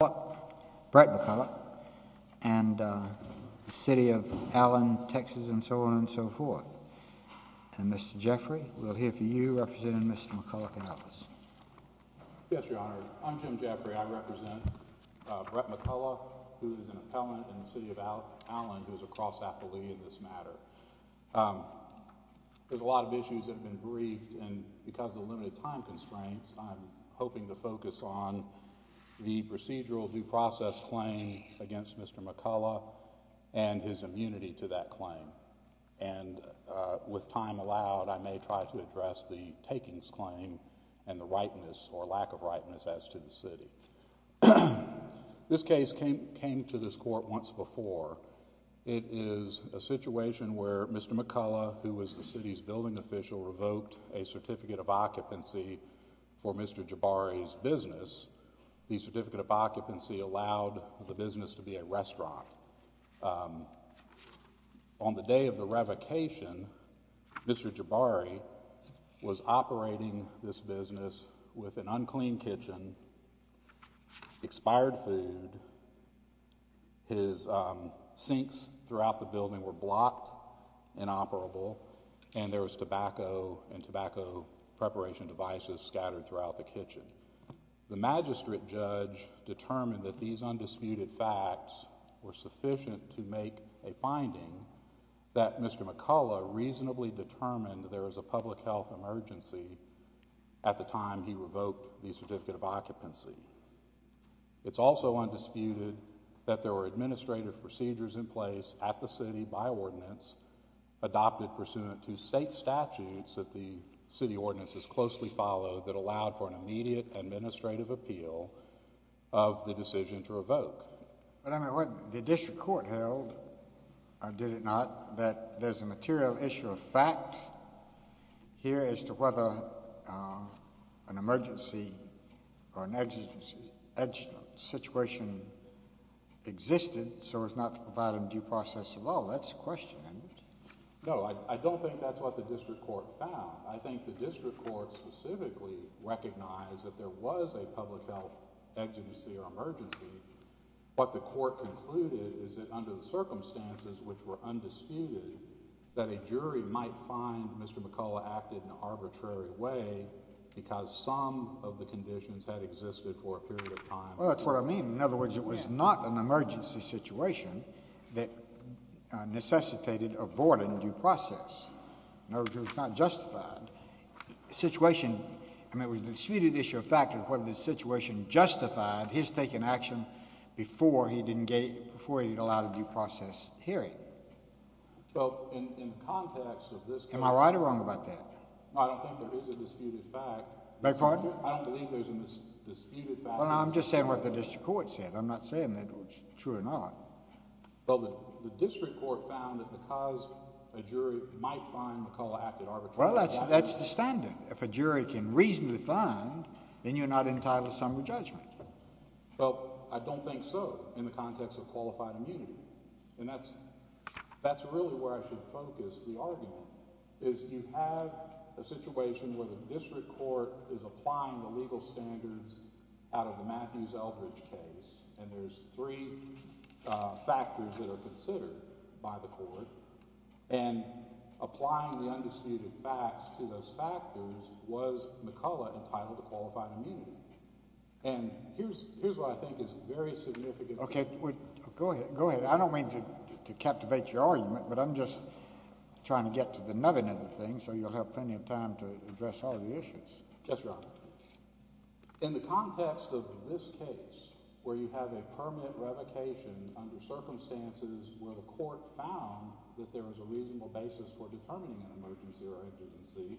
Brett McCullough and the City of Allen, Texas and so on and so forth and Mr. Jeffrey we'll hear for you representing Mr. McCullough and others. Yes, your honor. I'm Jim Jeffrey. I represent Brett McCullough who is an appellant in the City of Allen who is a cross appellee in this matter. There's a lot of issues that have been briefed and because of limited time constraints I'm hoping to focus on the procedural due process claim against Mr. McCullough and his immunity to that claim and with time allowed I may try to address the takings claim and the rightness or lack of rightness as to the city. This case came to this court once before. It is a situation where Mr. McCullough who was the occupancy for Mr. Jabary's business, the certificate of occupancy allowed the business to be a restaurant. On the day of the revocation, Mr. Jabary was operating this business with an unclean kitchen, expired food, his sinks throughout the building were blocked, inoperable and there was tobacco and tobacco preparation devices scattered throughout the kitchen. The magistrate judge determined that these undisputed facts were sufficient to make a finding that Mr. McCullough reasonably determined there was a public health emergency at the time he revoked the certificate of occupancy. It's also undisputed that there were administrative procedures in place at the city by ordinance adopted pursuant to state statutes that the city ordinances closely followed that allowed for an immediate administrative appeal of the decision to revoke. But I mean, what the district court held, did it not, that there's a material issue of fact here as to whether an emergency or an exigency situation existed so as not to provide a due process at all? That's the question, isn't it? No, I don't think that's what the district court found. I think the district court specifically recognized that there was a public health exigency or emergency. What the court concluded is that under the circumstances which were undisputed, that a jury might find Mr. McCullough acted in an arbitrary way because some of the conditions had existed for a period of time. Well, that's what I mean. In other words, it was not an emergency situation that necessitated avoiding due process. In other words, it was not justified. The situation, I mean, it was a disputed issue of fact of whether the situation justified his taking action before he allowed a due process hearing. Well, in the context of this case... Am I right or wrong about that? I don't think there is a disputed fact... Beg your pardon? I don't believe there's a disputed fact... Well, I'm just saying what the district court said. I'm not saying that it's true or not. Well, the district court found that because a jury might find McCullough acted arbitrarily... Well, that's the standard. If a jury can reasonably find, then you're not entitled to summary judgment. Well, I don't think so, in the context of qualified immunity. And that's really where I should focus the argument, is you have a situation where the district court is applying the legal standards out of the Matthews Eldridge case, and there's three factors that are considered by the court, and applying the undisputed facts to those factors, was McCullough entitled to qualified immunity. And here's what I think is very significant... Okay. Go ahead. Go ahead. I don't mean to captivate your argument, but I'm just trying to get to the nutting of the thing, so you'll have plenty of time to address all of the issues. Yes, Your Honor. In the context of this case, where you have a permanent revocation under circumstances where the court found that there was a reasonable basis for determining an emergency or agency,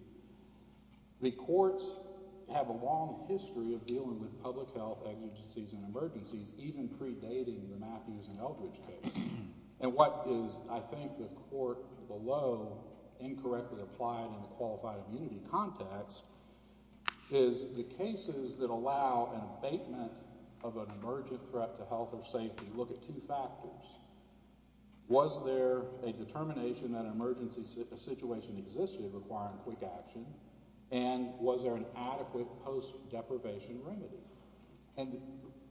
the courts have a long history of dealing with public health exigencies and emergencies, even predating the Matthews and Eldridge case. And what is, I think, the court below incorrectly applied in the qualified immunity context, is the cases that allow an abatement of an emergent threat to health or safety, look at two factors. Was there a determination that an emergency situation existed requiring quick action, and was there an adequate post-deprivation remedy?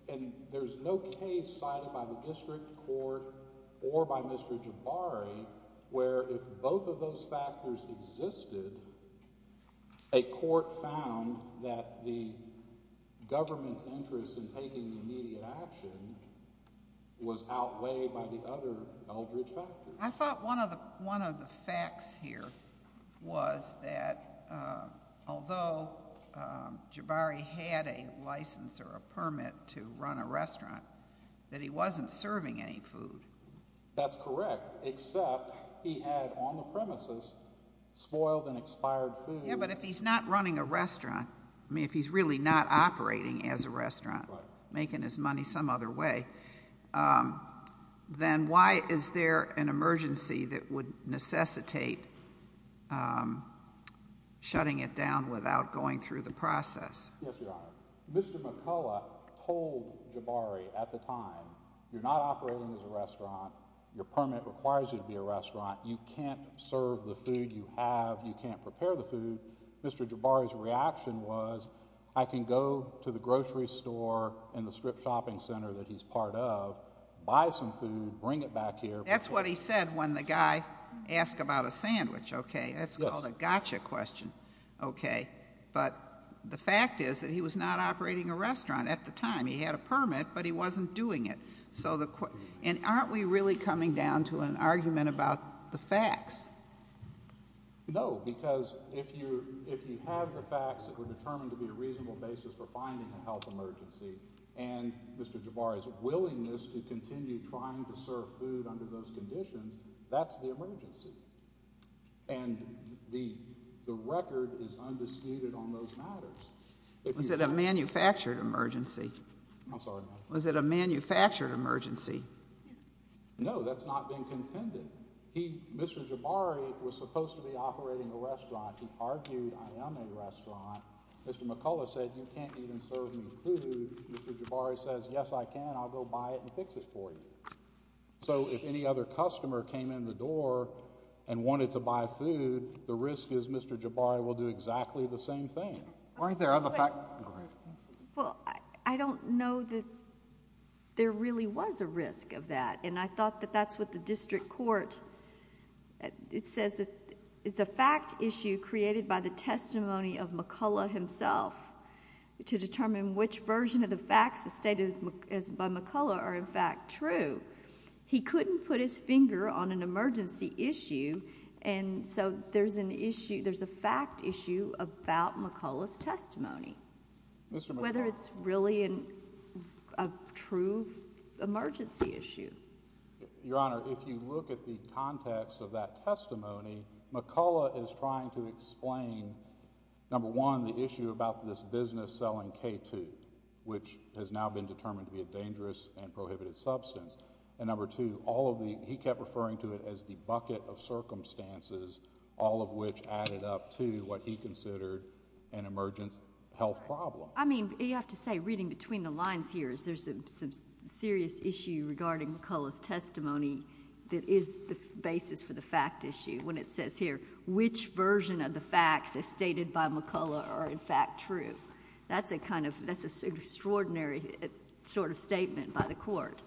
And there's no case cited by the district court or by Mr. Jabari where if both of those factors existed, a court found that the government's interest in taking immediate action was outweighed by the other Eldridge factors. I thought one of the facts here was that although Jabari had a license or a permit to run a restaurant, that he wasn't serving any food. That's correct, except he had on the premises spoiled and expired food. Yeah, but if he's not running a restaurant, I mean, if he's really not operating as a necessitate shutting it down without going through the process. Yes, Your Honor. Mr. McCullough told Jabari at the time, you're not operating as a restaurant, your permit requires you to be a restaurant, you can't serve the food you have, you can't prepare the food. Mr. Jabari's reaction was, I can go to the grocery store and the strip shopping center that he's part of, buy some food, bring it back here. That's what he said when the guy asked about a sandwich. Okay, that's called a gotcha question. Okay, but the fact is that he was not operating a restaurant at the time. He had a permit, but he wasn't doing it. And aren't we really coming down to an argument about the facts? No, because if you have the facts that were determined to be a reasonable basis for finding a health emergency, and Mr. Jabari's willingness to continue trying to serve food under those conditions, that's the emergency. And the record is undisputed on those matters. Was it a manufactured emergency? I'm sorry? Was it a manufactured emergency? No, that's not being contended. Mr. Jabari was supposed to be operating a restaurant. He argued, I am a restaurant. Mr. McCullough said, you can't even serve me food. Mr. Jabari says, yes, I can. I'll go buy it and fix it for you. So if any other customer came in the door and wanted to buy food, the risk is Mr. Jabari will do exactly the same thing. Aren't there other... Well, I don't know that there really was a risk of that, and I thought that that's what the District Court... it says that it's a fact issue created by the testimony of McCullough himself to determine which version of the facts stated by McCullough are in fact true. He couldn't put his finger on an emergency issue, and so there's an issue... there's a fact issue about McCullough's testimony, whether it's really a true emergency issue. Your Honor, if you look at the context of that testimony, McCullough is trying to explain, number one, the issue about this business selling K2, which has now been determined to be a dangerous and prohibited substance, and number two, all of the... he kept referring to it as the bucket of circumstances, all of which added up to what he considered an emergency health problem. I mean, you have to say, reading between the lines here, is there some serious issue regarding McCullough's testimony that is the basis for the fact issue when it says here, which version of the facts as stated by McCullough are in fact true? That's a kind of... that's an extraordinary sort of statement by the Court.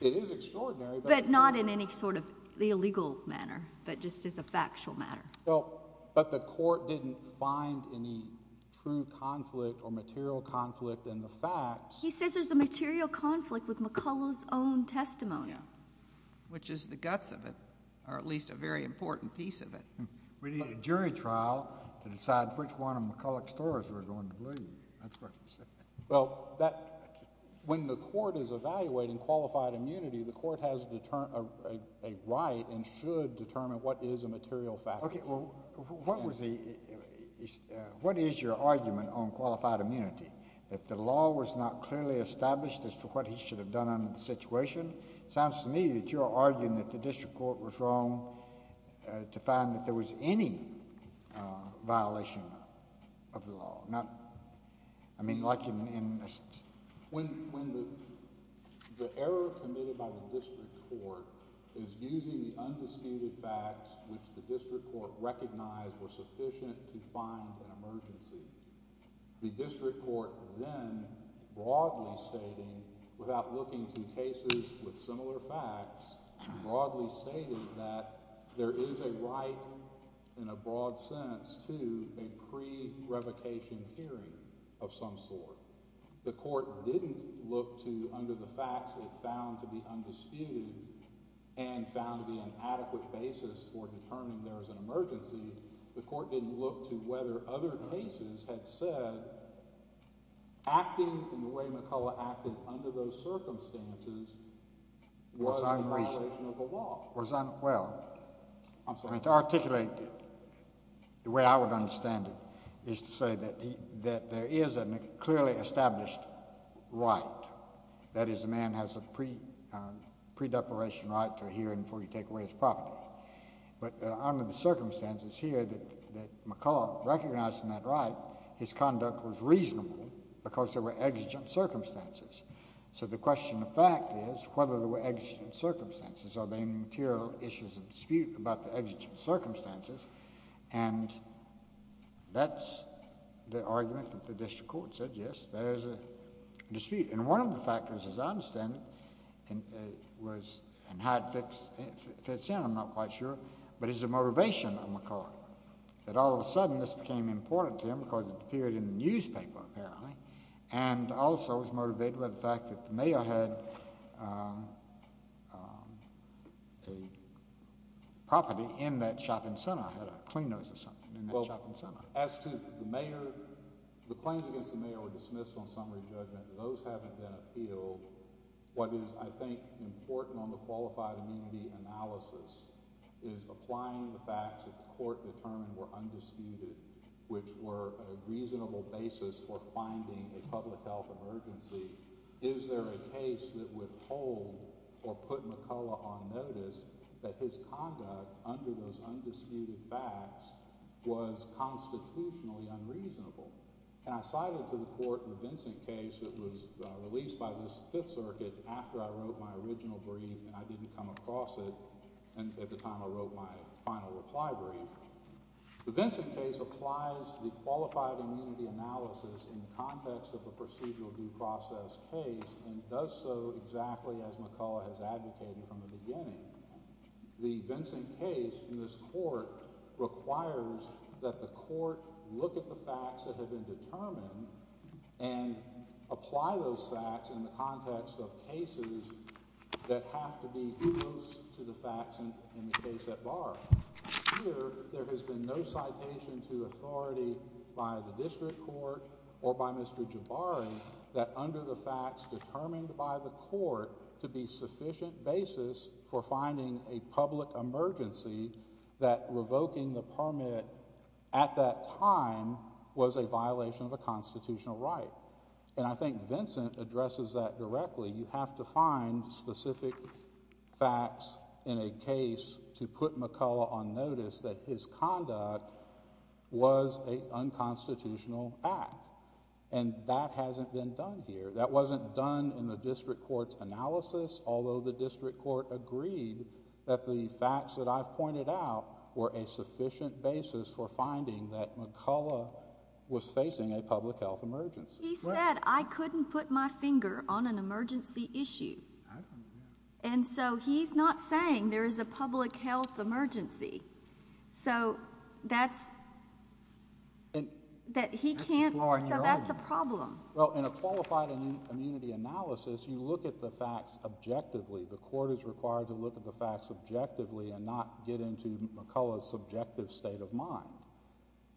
It is extraordinary, but... But not in any sort of illegal manner, but just as a factual matter. Well, but the Court didn't find any true conflict or material conflict in the facts. He says there's a material conflict with McCullough's own testimony. Which is the guts of it, or at least a very important piece of it. We need a jury trial to decide which one of McCullough's stories we're going to believe. That's what he said. Well, that... when the Court is evaluating qualified immunity, the Court has a right and should determine what is a material fact. Okay. Well, what was the... what is your argument on qualified immunity? That the law was not clearly established as to what he should have done under the situation? It sounds to me that you're arguing that the District Court was wrong to find that there was any violation of the law. Not... I mean, like in... When the error committed by the District Court is using the undisputed facts which the District Court recognized were sufficient to find an emergency, the District Court then broadly stating, without looking to cases with similar facts, broadly stated that there is a right, in a broad sense, to a pre-revocation hearing of some sort. The Court didn't look to, under the facts it found to be undisputed and found to be an adequate basis for determining there was an emergency. The Court didn't look to whether other cases had said acting in the way McCullough acted under those circumstances was a violation of the law. Well, to articulate it the way I would understand it is to say that there is a... clearly established right. That is, a man has a pre-deparation right to a hearing before he takes away his property. But under the circumstances here that McCullough recognized in that right, his conduct was reasonable because there were exigent circumstances. So the question of fact is whether there were exigent circumstances. Are there any material issues of dispute about the exigent circumstances? And that's the argument that the District Court said, yes, there is a dispute. And one of the factors, as I understand it, was... and how it fits in, I'm not quite sure, but is the motivation of McCullough. That all of a sudden this became important to him because it appeared in the newspaper, apparently, and also was motivated by the fact that the mayor had a property in that shop and center had a clean nose or something in that shop and center. Well, as to the mayor, the claims against the mayor were dismissed on summary judgment. Those haven't been appealed. What is, I think, important on the qualified immunity analysis is applying the facts that the court determined were undisputed, which were a reasonable basis for finding a public health emergency. Is there a case that would hold or put McCullough on notice that his conduct under those undisputed facts was constitutionally unreasonable? And I cited to the court the Vincent case that was released by the Fifth Circuit after I wrote my original brief and I didn't come across it at the time I wrote my final reply brief. The Vincent case applies the qualified immunity analysis in the context of a procedural due process case and does so exactly as McCullough has advocated from the beginning. The Vincent case in this court requires that the court look at the facts that have been determined and apply those facts in the context of cases that have to be due to the facts in the case at bar. Here, there has been no citation to authority by the district court or by Mr. Jabari that under the facts determined by the court to be sufficient basis for finding a public emergency that revoking the permit at that time was a violation of a constitutional right. And I think Vincent addresses that directly. You have to find specific facts in a case to put McCullough on notice that his conduct was a unconstitutional act. And that hasn't been done here. That wasn't done in the district court's analysis, although the district court agreed that the facts that I've pointed out were a sufficient basis for finding that McCullough was facing a public health emergency. He said, I couldn't put my finger on an emergency issue. And so he's not saying there is a public health emergency. So that's a problem. Well, in a qualified immunity analysis, you look at the facts objectively. The court is required to look at the facts objectively and not get into McCullough's subjective state of mind.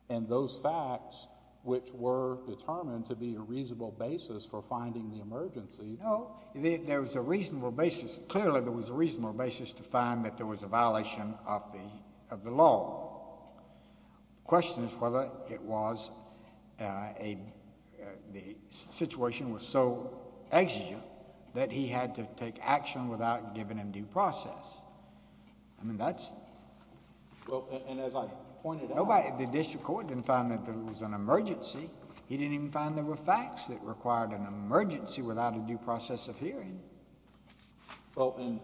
And those facts, which were determined to be a reasonable basis for finding the emergency No, there was a reasonable basis. Clearly, there was a reasonable basis to find that there was a violation of the law. The question is whether the situation was so exigent that he had to take action without giving him due process. I mean, that's Well, and as I pointed out The district court didn't find that there was an emergency. He didn't even find there were facts that required an emergency without a due process of hearing. Well, and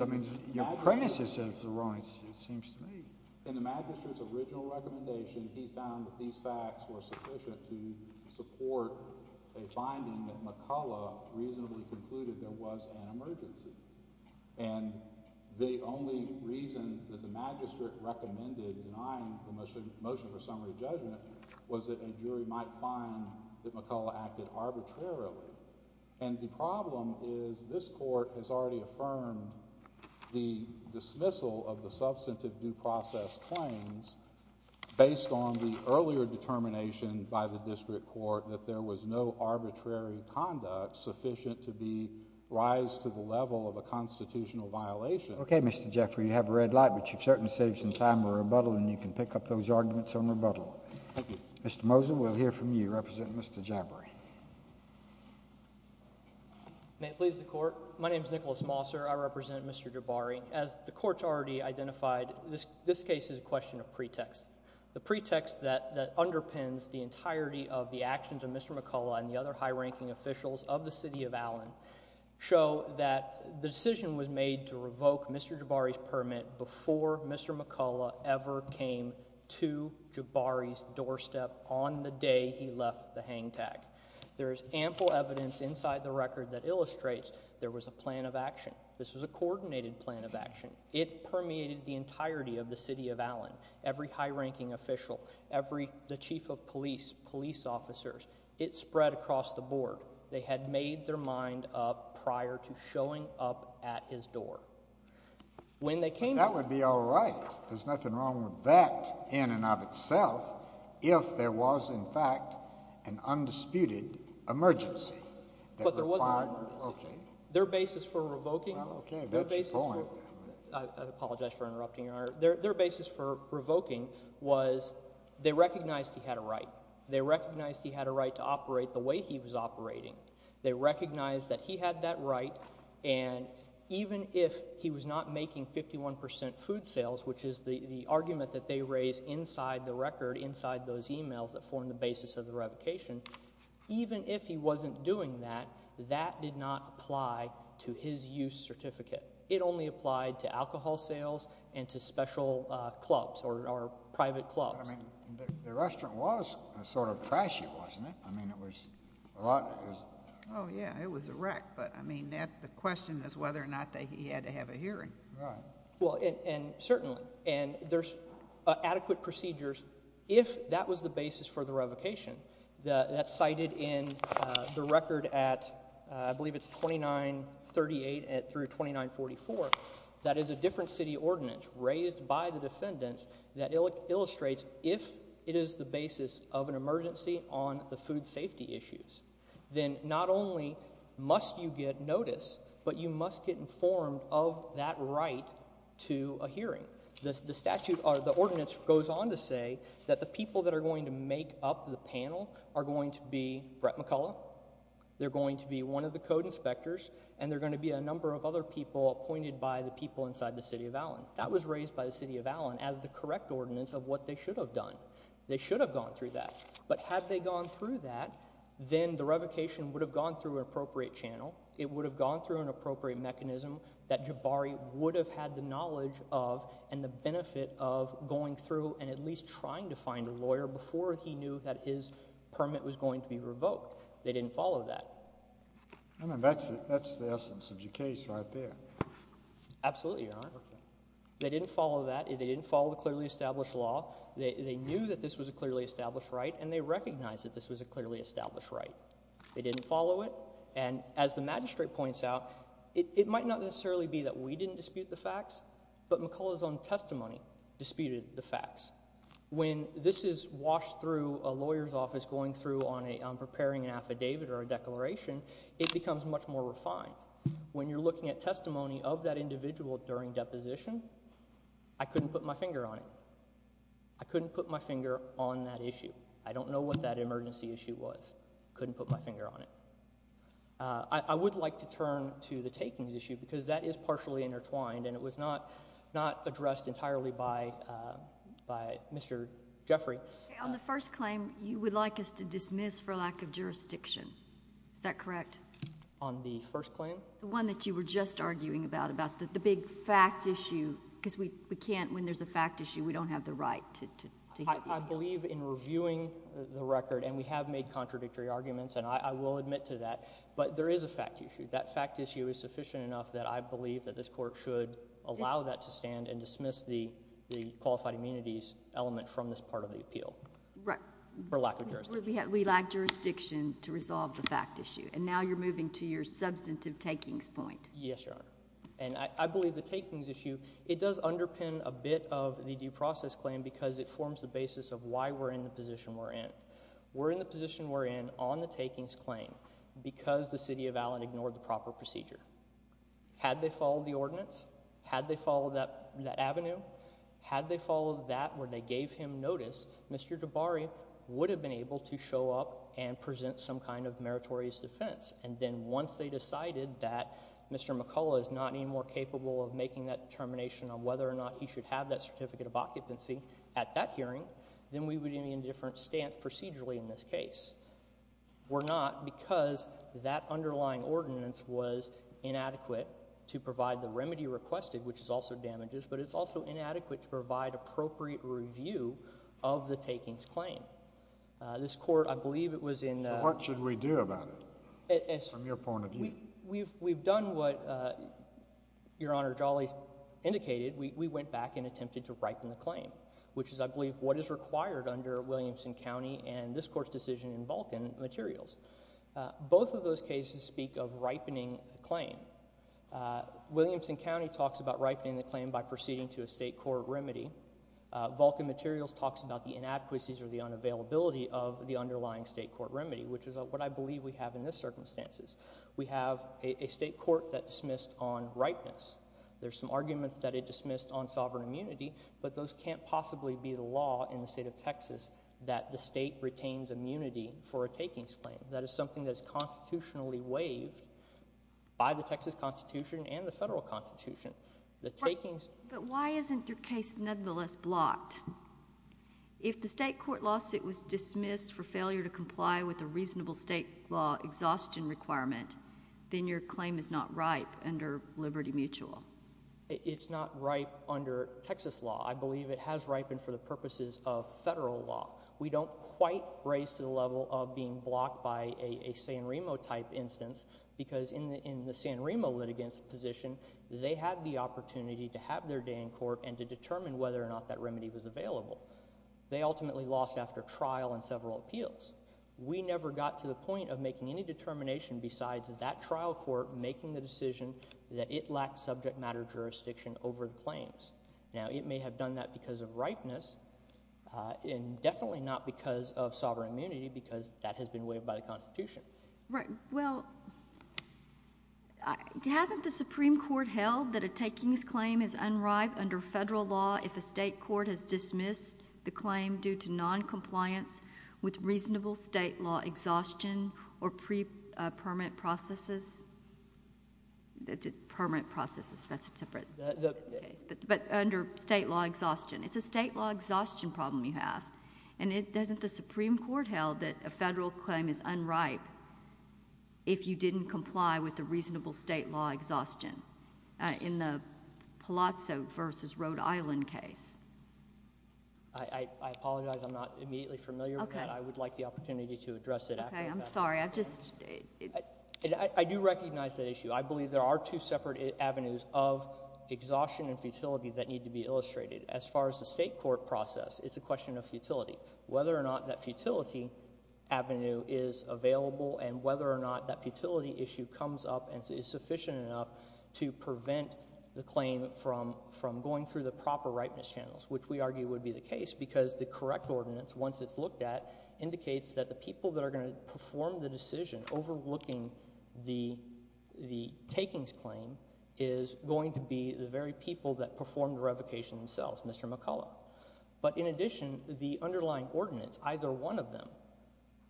I mean, your premises of the wrong, it seems to me In the magistrate's original recommendation, he found that these facts were sufficient to support a finding that McCullough reasonably concluded there was an emergency. And the only reason that the magistrate recommended denying the motion for summary judgment was that a jury might find that McCullough acted arbitrarily. And the problem is this court has already affirmed the dismissal of the substantive due process claims based on the earlier determination by the district court that there was no arbitrary conduct sufficient to be, rise to the level of a constitutional violation. Okay, Mr. Jeffrey, you have a red light, but you've certainly saved some time for rebuttal and you can pick up those arguments on rebuttal. Thank you. Mr. Moser, we'll hear from you. Represent Mr. Jabari. May it please the court. My name is Nicholas Moser. I represent Mr. Jabari. As the court's already identified, this case is a question of pretext. The pretext that underpins the entirety of the actions of Mr. McCullough and the other high-ranking officials of the city of Allen show that the decision was made to revoke Mr. Jabari's permit before Mr. McCullough ever came to Jabari's doorstep on the day he left the hang tag. There is ample evidence inside the record that illustrates there was a plan of action. This was a coordinated plan of action. It permeated the entirety of the city of Allen. Every high-ranking official, every, the chief of police, police officers, it spread across the board. They had made their mind up prior to showing up at his door. That would be all right. There's nothing wrong with that in and of itself if there was, in fact, an undisputed emergency. But there was an emergency. Okay. Their basis for revoking— Well, okay. That's a point. I apologize for interrupting, Your Honor. Their basis for revoking was they recognized he had a right. They recognized he had a right to operate the way he was operating. They recognized that he had that right. And even if he was not making 51 percent food sales, which is the argument that they raise inside the record, inside those emails that form the basis of the revocation, even if he wasn't doing that, that did not apply to his use certificate. It only applied to alcohol sales and to special clubs or private clubs. The restaurant was sort of trashy, wasn't it? I mean, it was a lot— Oh, yeah. It was a wreck. But, I mean, the question is whether or not he had to have a hearing. Right. Well, and certainly—and there's adequate procedures if that was the basis for the revocation that's cited in the record at, I believe it's 2938 through 2944. That is a different city ordinance raised by the defendants that illustrates if it is the basis of an emergency on the food safety issues, then not only must you get notice, but you must get informed of that right to a hearing. The statute or the ordinance goes on to say that the people that are going to make up the panel are going to be Brett McCullough, they're going to be one of the code inspectors, and they're going to be a number of other people appointed by the people inside the city of Allen. That was raised by the city of Allen as the correct ordinance of what they should have done. They should have gone through that. But had they gone through that, then the revocation would have gone through an appropriate channel. It would have gone through an appropriate mechanism that Jabari would have had the knowledge of and the benefit of going through and at least trying to find a lawyer before he knew that his permit was going to be revoked. They didn't follow that. I mean, that's the essence of your case right there. Absolutely, Your Honor. They didn't follow that. They didn't follow the clearly established law. They knew that this was a clearly established right, and they recognized that this was a clearly established right. They didn't follow it. And as the magistrate points out, it might not necessarily be that we didn't dispute the facts, but McCullough's own testimony disputed the facts. When this is washed through a lawyer's office going through on preparing an affidavit or a declaration, it becomes much more refined. When you're looking at testimony of that individual during deposition, I couldn't put my finger on it. I couldn't put my finger on that issue. I don't know what that emergency issue was. Couldn't put my finger on it. I would like to turn to the takings issue because that is partially intertwined, and it was not addressed entirely by Mr. Jeffrey. Okay. On the first claim, you would like us to dismiss for lack of jurisdiction. Is that correct? On the first claim? The one that you were just arguing about, about the big fact issue because we can't, when there's a fact issue, we don't have the right to have that issue. I believe in reviewing the record, and we have made contradictory arguments, and I will admit to that, but there is a fact issue. That fact issue is sufficient enough that I believe that this court should allow that to stand and dismiss the qualified immunities element from this part of the appeal. Right. For lack of jurisdiction. We lack jurisdiction to resolve the fact issue. And now you're moving to your substantive takings point. Yes, Your Honor. And I believe the takings issue, it does underpin a bit of the due process claim because it forms the basis of why we're in the position we're in. We're in the position we're in on the takings claim because the city of Allen ignored the proper procedure. Had they followed the ordinance, had they followed that avenue, had they followed that where they gave him notice, Mr. Jabari would have been able to show up and present some kind of meritorious defense. And then once they decided that Mr. McCullough is not anymore capable of making that determination on whether or not he should have that certificate of occupancy at that hearing, then we would be in a different stance procedurally in this case. We're not because that underlying ordinance was inadequate to provide the remedy requested, which is also damages, but it's also inadequate to provide appropriate review of the takings claim. This court, I believe it was in the... So what should we do about it from your point of view? We've done what Your Honor Jolley indicated. We went back and attempted to ripen the claim, which is I believe what is required under Williamson County and this court's decision in Vulcan Materials. Both of those cases speak of ripening the claim. Williamson County talks about ripening the claim by proceeding to a state court remedy. Vulcan Materials talks about the inadequacies or the unavailability of the underlying state court remedy, which is what I believe we have in this circumstances. We have a state court that dismissed on ripeness. There are some arguments that it dismissed on sovereign immunity, but those can't possibly be the law in the state of Texas that the state retains immunity for a takings claim. That is something that is constitutionally waived by the Texas Constitution and the federal Constitution. The takings... But why isn't your case nevertheless blocked? If the state court lawsuit was dismissed for failure to comply with a reasonable state law exhaustion requirement, then your claim is not ripe under Liberty Mutual. It's not ripe under Texas law. I believe it has ripened for the purposes of federal law. We don't quite raise to the level of being blocked by a San Remo type instance because in the San Remo litigant's position, they had the opportunity to have their day in court and to determine whether or not that remedy was available. They ultimately lost after trial and several appeals. We never got to the point of making any determination besides that trial court making the decision that it lacked subject matter jurisdiction over the claims. Now, it may have done that because of ripeness and definitely not because of sovereign immunity because that has been waived by the Constitution. Right. Well, hasn't the Supreme Court held that a takings claim is unripe under federal law if a state court has dismissed the claim due to noncompliance with reasonable state law exhaustion or pre-permanent processes? Permanent processes, that's a different case. But under state law exhaustion. It's a state law exhaustion problem you have. And doesn't the Supreme Court held that a federal claim is unripe if you didn't comply with the reasonable state law exhaustion in the Palazzo versus Rhode Island case? I apologize. I'm not immediately familiar with that. I would like the opportunity to address it after that. Okay. I'm sorry. I do recognize that issue. As far as the state court process, it's a question of futility, whether or not that futility avenue is available and whether or not that futility issue comes up and is sufficient enough to prevent the claim from going through the proper ripeness channels, which we argue would be the case because the correct ordinance, once it's looked at, indicates that the people that are going to perform the decision overlooking the takings claim is going to be the very people that performed the revocation themselves, Mr. McCullough. But in addition, the underlying ordinance, either one of them,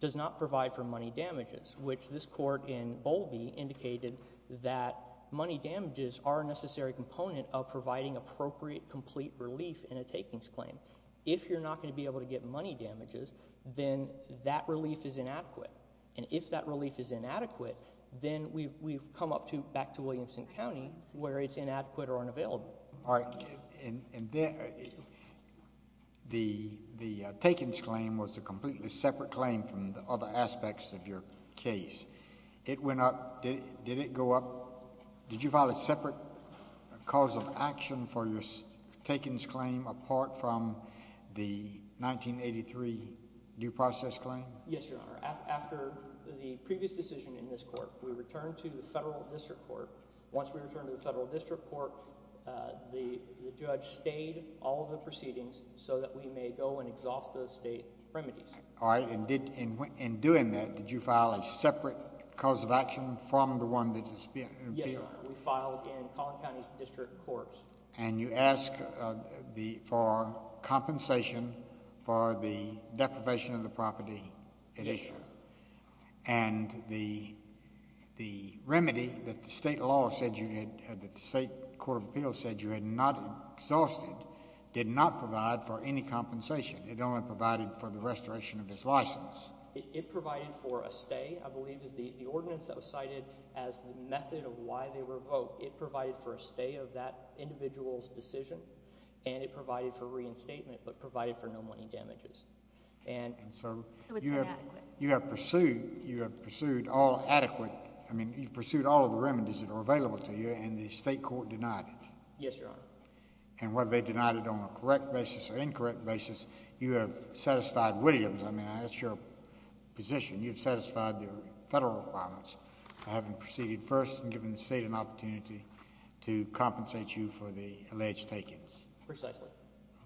does not provide for money damages, which this court in Bowlby indicated that money damages are a necessary component of providing appropriate complete relief in a takings claim. If you're not going to be able to get money damages, then that relief is inadequate. And if that relief is inadequate, then we've come up back to Williamson County where it's inadequate or unavailable. All right. And the takings claim was a completely separate claim from the other aspects of your case. It went up. Did it go up? Did you file a separate cause of action for your takings claim apart from the 1983 due process claim? Yes, Your Honor. After the previous decision in this court, we returned to the federal district court. Once we returned to the federal district court, the judge stayed all of the proceedings so that we may go and exhaust those state remedies. All right. And in doing that, did you file a separate cause of action from the one that disappeared? Yes, Your Honor. We filed in Collin County's district courts. And you asked for compensation for the deprivation of the property. Yes, Your Honor. And the remedy that the state law said you had—that the state court of appeals said you had not exhausted did not provide for any compensation. It only provided for the restoration of its license. It provided for a stay, I believe, is the ordinance that was cited as the method of why they were revoked. It provided for a stay of that individual's decision, and it provided for reinstatement but provided for no money damages. And so— So it's inadequate. You have pursued all adequate—I mean, you've pursued all of the remedies that are available to you, and the state court denied it. Yes, Your Honor. And whether they denied it on a correct basis or incorrect basis, you have satisfied Williams. I mean, that's your position. You've satisfied the federal requirements. I haven't proceeded first and given the state an opportunity to compensate you for the alleged takings. Precisely.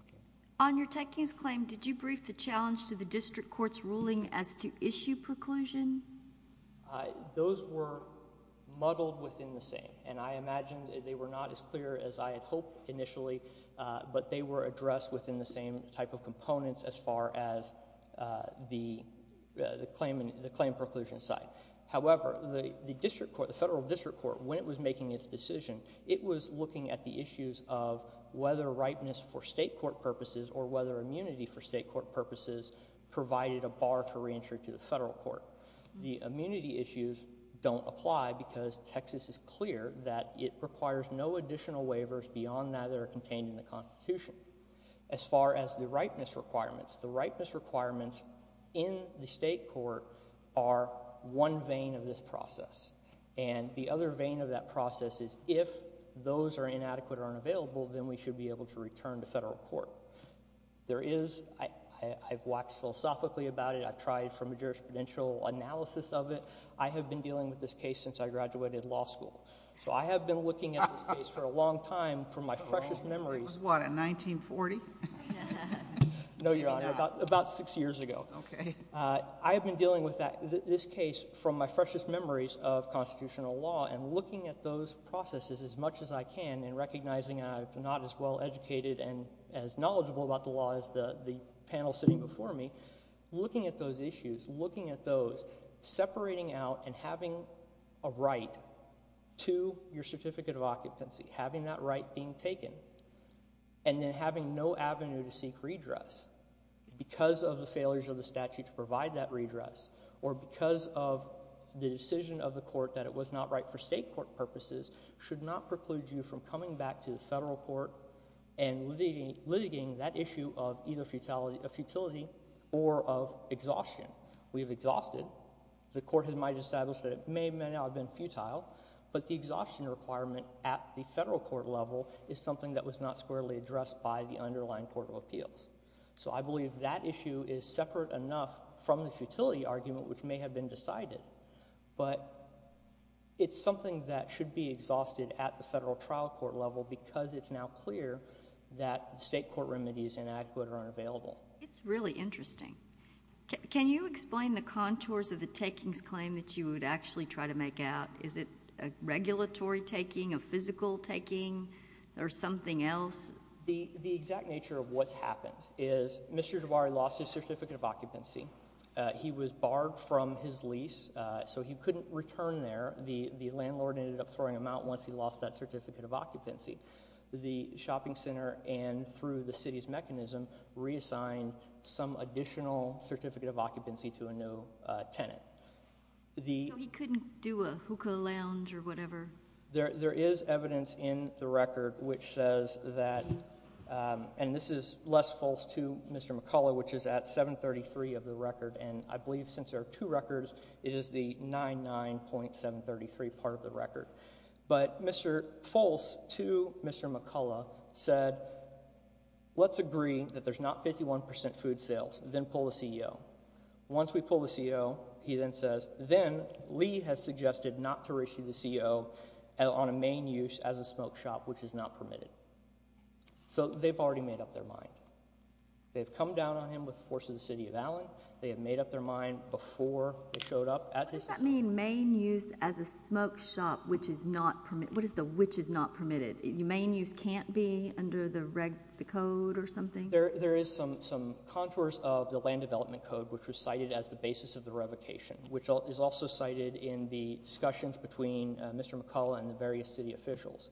Okay. On your takings claim, did you brief the challenge to the district court's ruling as to issue preclusion? Those were muddled within the same, and I imagine they were not as clear as I had hoped initially, but they were addressed within the same type of components as far as the claim preclusion side. However, the district court, the federal district court, when it was making its decision, it was looking at the issues of whether ripeness for state court purposes or whether immunity for state court purposes provided a bar to reentry to the federal court. The immunity issues don't apply because Texas is clear that it requires no additional waivers beyond that that are contained in the Constitution. As far as the ripeness requirements, the ripeness requirements in the state court are one vein of this process. And the other vein of that process is if those are inadequate or unavailable, then we should be able to return to federal court. There is, I've waxed philosophically about it. I've tried from a jurisprudential analysis of it. I have been dealing with this case since I graduated law school. So I have been looking at this case for a long time from my freshest memories. It was what, in 1940? No, Your Honor, about six years ago. Okay. I have been dealing with this case from my freshest memories of constitutional law and looking at those processes as much as I can and recognizing I'm not as well educated and as knowledgeable about the law as the panel sitting before me. Looking at those issues, looking at those, separating out and having a right to your certificate of occupancy, having that right being taken, and then having no avenue to seek redress because of the failures of the statute to provide that redress or because of the decision of the court that it was not right for state court purposes should not preclude you from coming back to the federal court and litigating that issue of either a futility or of exhaustion. We have exhausted. The court might have established that it may or may not have been futile, but the exhaustion requirement at the federal court level is something that was not squarely addressed by the underlying court of appeals. So I believe that issue is separate enough from the futility argument, which may have been decided, but it's something that should be exhausted at the federal trial court level because it's now clear that state court remedies inadequate or unavailable. It's really interesting. Can you explain the contours of the takings claim that you would actually try to make out? Is it a regulatory taking, a physical taking, or something else? The exact nature of what's happened is Mr. Javari lost his certificate of occupancy. He was barred from his lease, so he couldn't return there. The landlord ended up throwing him out once he lost that certificate of occupancy. The shopping center, and through the city's mechanism, reassigned some additional certificate of occupancy to a new tenant. So he couldn't do a hookah lounge or whatever? There is evidence in the record which says that, and this is less false to Mr. McCullough, which is at 733 of the record, and I believe since there are two records, it is the 99.733 part of the record. But false to Mr. McCullough said, let's agree that there's not 51 percent food sales, then pull the CEO. Once we pull the CEO, he then says, then Lee has suggested not to reissue the CEO on a main use as a smoke shop, which is not permitted. So they've already made up their mind. They've come down on him with the force of the city of Allen. They have made up their mind before he showed up. What does that mean, main use as a smoke shop, which is not permitted? What is the which is not permitted? Main use can't be under the code or something? There is some contours of the land development code, which was cited as the basis of the revocation, which is also cited in the discussions between Mr. McCullough and the various city officials.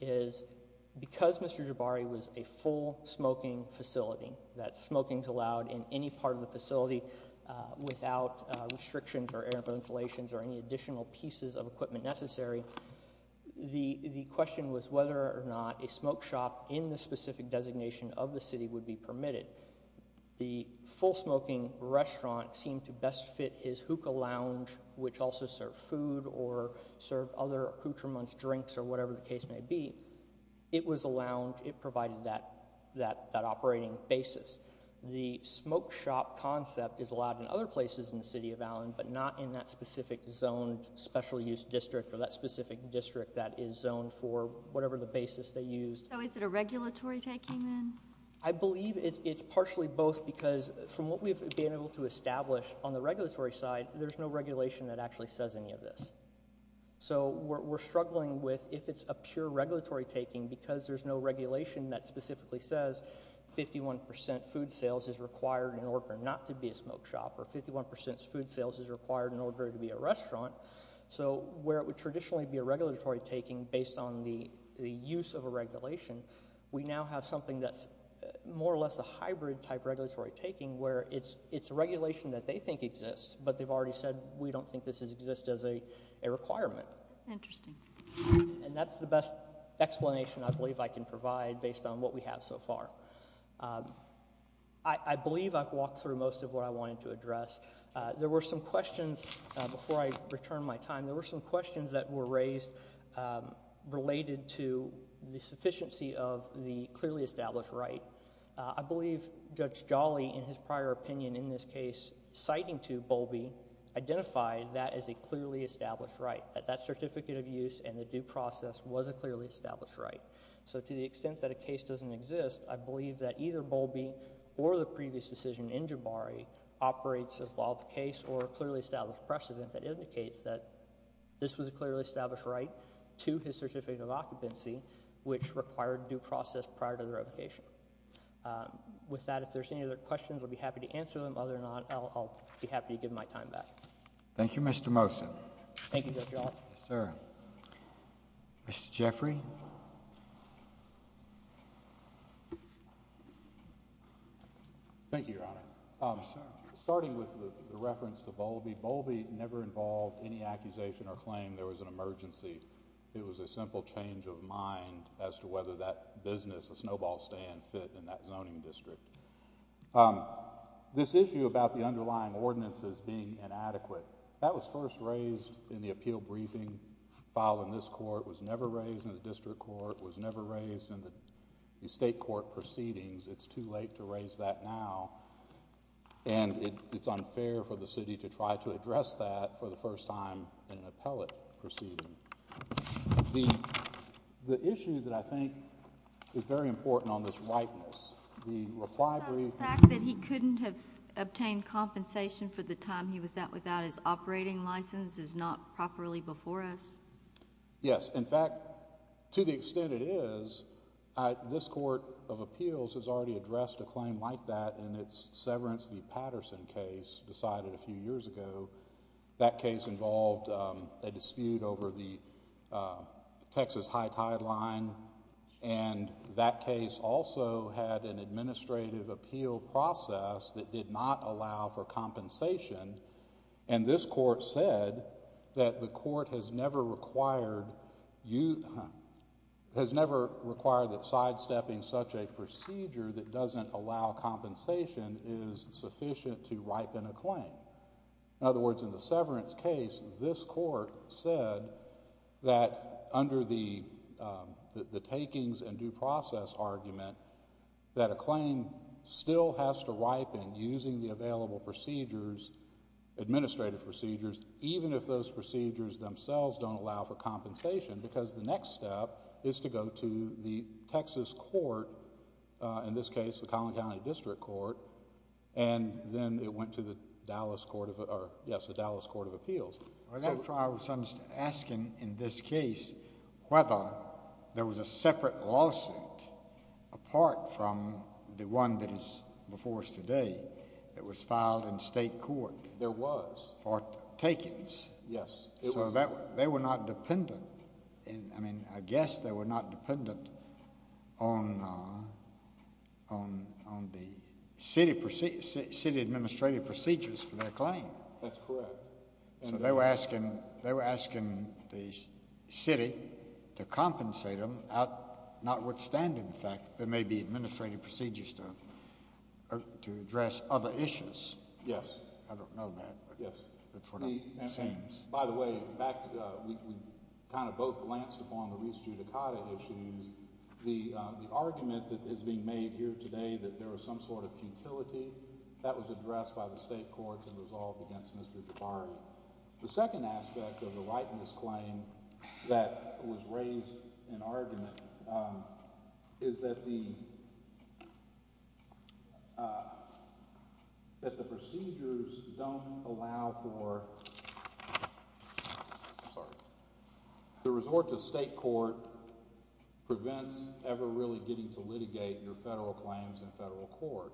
Because Mr. Jabari was a full smoking facility, that smoking is allowed in any part of the facility without restrictions or air ventilations or any additional pieces of equipment necessary. The question was whether or not a smoke shop in the specific designation of the city would be permitted. The full smoking restaurant seemed to best fit his hookah lounge, which also serve food or serve other accoutrements, drinks or whatever the case may be. It provided that operating basis. The smoke shop concept is allowed in other places in the city of Allen, but not in that specific zoned special use district or that specific district that is zoned for whatever the basis they use. So is it a regulatory taking then? I believe it's partially both because from what we've been able to establish on the regulatory side, there's no regulation that actually says any of this. So we're struggling with if it's a pure regulatory taking because there's no regulation that specifically says 51% food sales is required in order not to be a smoke shop or 51% food sales is required in order to be a restaurant. So where it would traditionally be a regulatory taking based on the use of a regulation, we now have something that's more or less a hybrid type regulatory taking where it's a regulation that they think exists, but they've already said we don't think this exists as a requirement. Interesting. And that's the best explanation I believe I can provide based on what we have so far. I believe I've walked through most of what I wanted to address. There were some questions before I return my time. There were some questions that were raised related to the sufficiency of the clearly established right. I believe Judge Jolly in his prior opinion in this case citing to Bowlby identified that as a clearly established right, that that certificate of use and the due process was a clearly established right. So to the extent that a case doesn't exist, I believe that either Bowlby or the previous decision in Jabari operates as law of the case or a clearly established precedent that indicates that this was a clearly established right to his certificate of occupancy which required due process prior to the revocation. With that, if there's any other questions, I'll be happy to answer them. Other than that, I'll be happy to give my time back. Thank you, Mr. Mosen. Thank you, Judge Jolly. Yes, sir. Mr. Jeffrey. Thank you, Your Honor. Starting with the reference to Bowlby, Bowlby never involved any accusation or claim there was an emergency. It was a simple change of mind as to whether that business, a snowball stand, fit in that zoning district. This issue about the underlying ordinances being inadequate, that was first raised in the appeal briefing filed in this court. It was never raised in the district court. It was never raised in the state court proceedings. It's too late to raise that now. And it's unfair for the city to try to address that for the first time in an appellate proceeding. The issue that I think is very important on this rightness, the reply brief— The fact that he couldn't have obtained compensation for the time he was out without his operating license is not properly before us? Yes. In fact, to the extent it is, this court of appeals has already addressed a claim like that in its Severance v. Patterson case decided a few years ago. That case involved a dispute over the Texas high tideline, and that case also had an administrative appeal process that did not allow for compensation. And this court said that the court has never required that sidestepping such a procedure that doesn't allow compensation is sufficient to ripen a claim. In other words, in the Severance case, this court said that under the takings and due process argument, that a claim still has to ripen using the available procedures, administrative procedures, even if those procedures themselves don't allow for compensation because the next step is to go to the Texas court, in this case the Collin County District Court, and then it went to the Dallas Court of Appeals. I was asking in this case whether there was a separate lawsuit apart from the one that is before us today that was filed in state court. There was. For takings. Yes. They were not dependent. I mean, I guess they were not dependent on the city administrative procedures for their claim. That's correct. So they were asking the city to compensate them notwithstanding the fact that there may be administrative procedures to address other issues. I don't know that. Yes. By the way, we kind of both glanced upon the Reese Judicata issues. The argument that is being made here today that there was some sort of futility, that was addressed by the state courts and resolved against Mr. Tabari. The second aspect of the right in this claim that was raised in argument is that the procedures don't allow for the resort to state court prevents ever really getting to litigate your federal claims in federal court.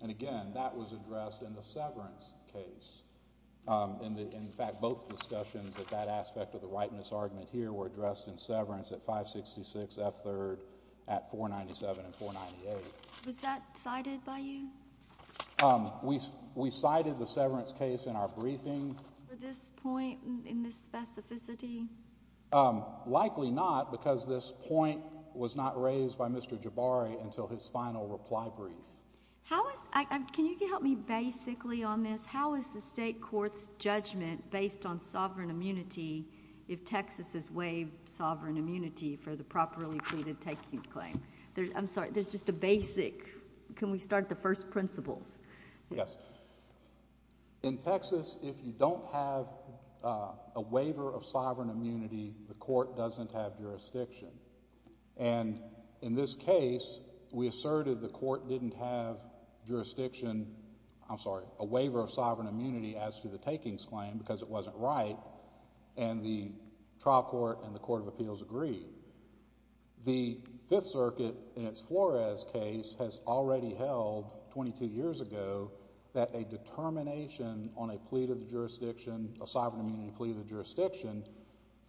And again, that was addressed in the severance case. In fact, both discussions at that aspect of the right in this argument here were addressed in severance at 566 F. 3rd at 497 and 498. Was that cited by you? We cited the severance case in our briefing. For this point in this specificity? Likely not because this point was not raised by Mr. Tabari until his final reply brief. Can you help me basically on this? How is the state court's judgment based on sovereign immunity if Texas is waived sovereign immunity for the properly pleaded takings claim? I'm sorry. There's just a basic. Can we start at the first principles? Yes. In Texas, if you don't have a waiver of sovereign immunity, the court doesn't have jurisdiction. And in this case, we asserted the court didn't have jurisdiction. I'm sorry. A waiver of sovereign immunity as to the takings claim because it wasn't right. And the trial court and the court of appeals agreed. The Fifth Circuit in its Flores case has already held 22 years ago that a determination on a plea to the jurisdiction, a sovereign immunity plea to the jurisdiction,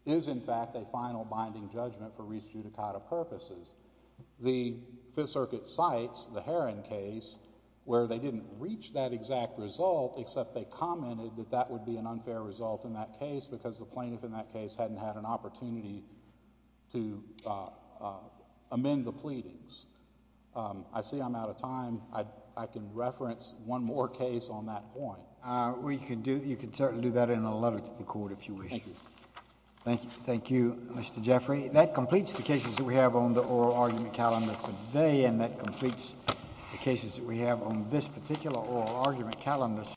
is in fact a final binding judgment for res judicata purposes. The Fifth Circuit cites the Heron case where they didn't reach that exact result except they commented that that would be an unfair result in that case because the plaintiff in that case hadn't had an opportunity to amend the pleadings. I see I'm out of time. I can reference one more case on that point. You can certainly do that in a letter to the court if you wish. Thank you. Thank you, Mr. Jeffrey. That completes the cases that we have on the oral argument calendar today, and that completes the cases that we have on this particular oral argument calendar.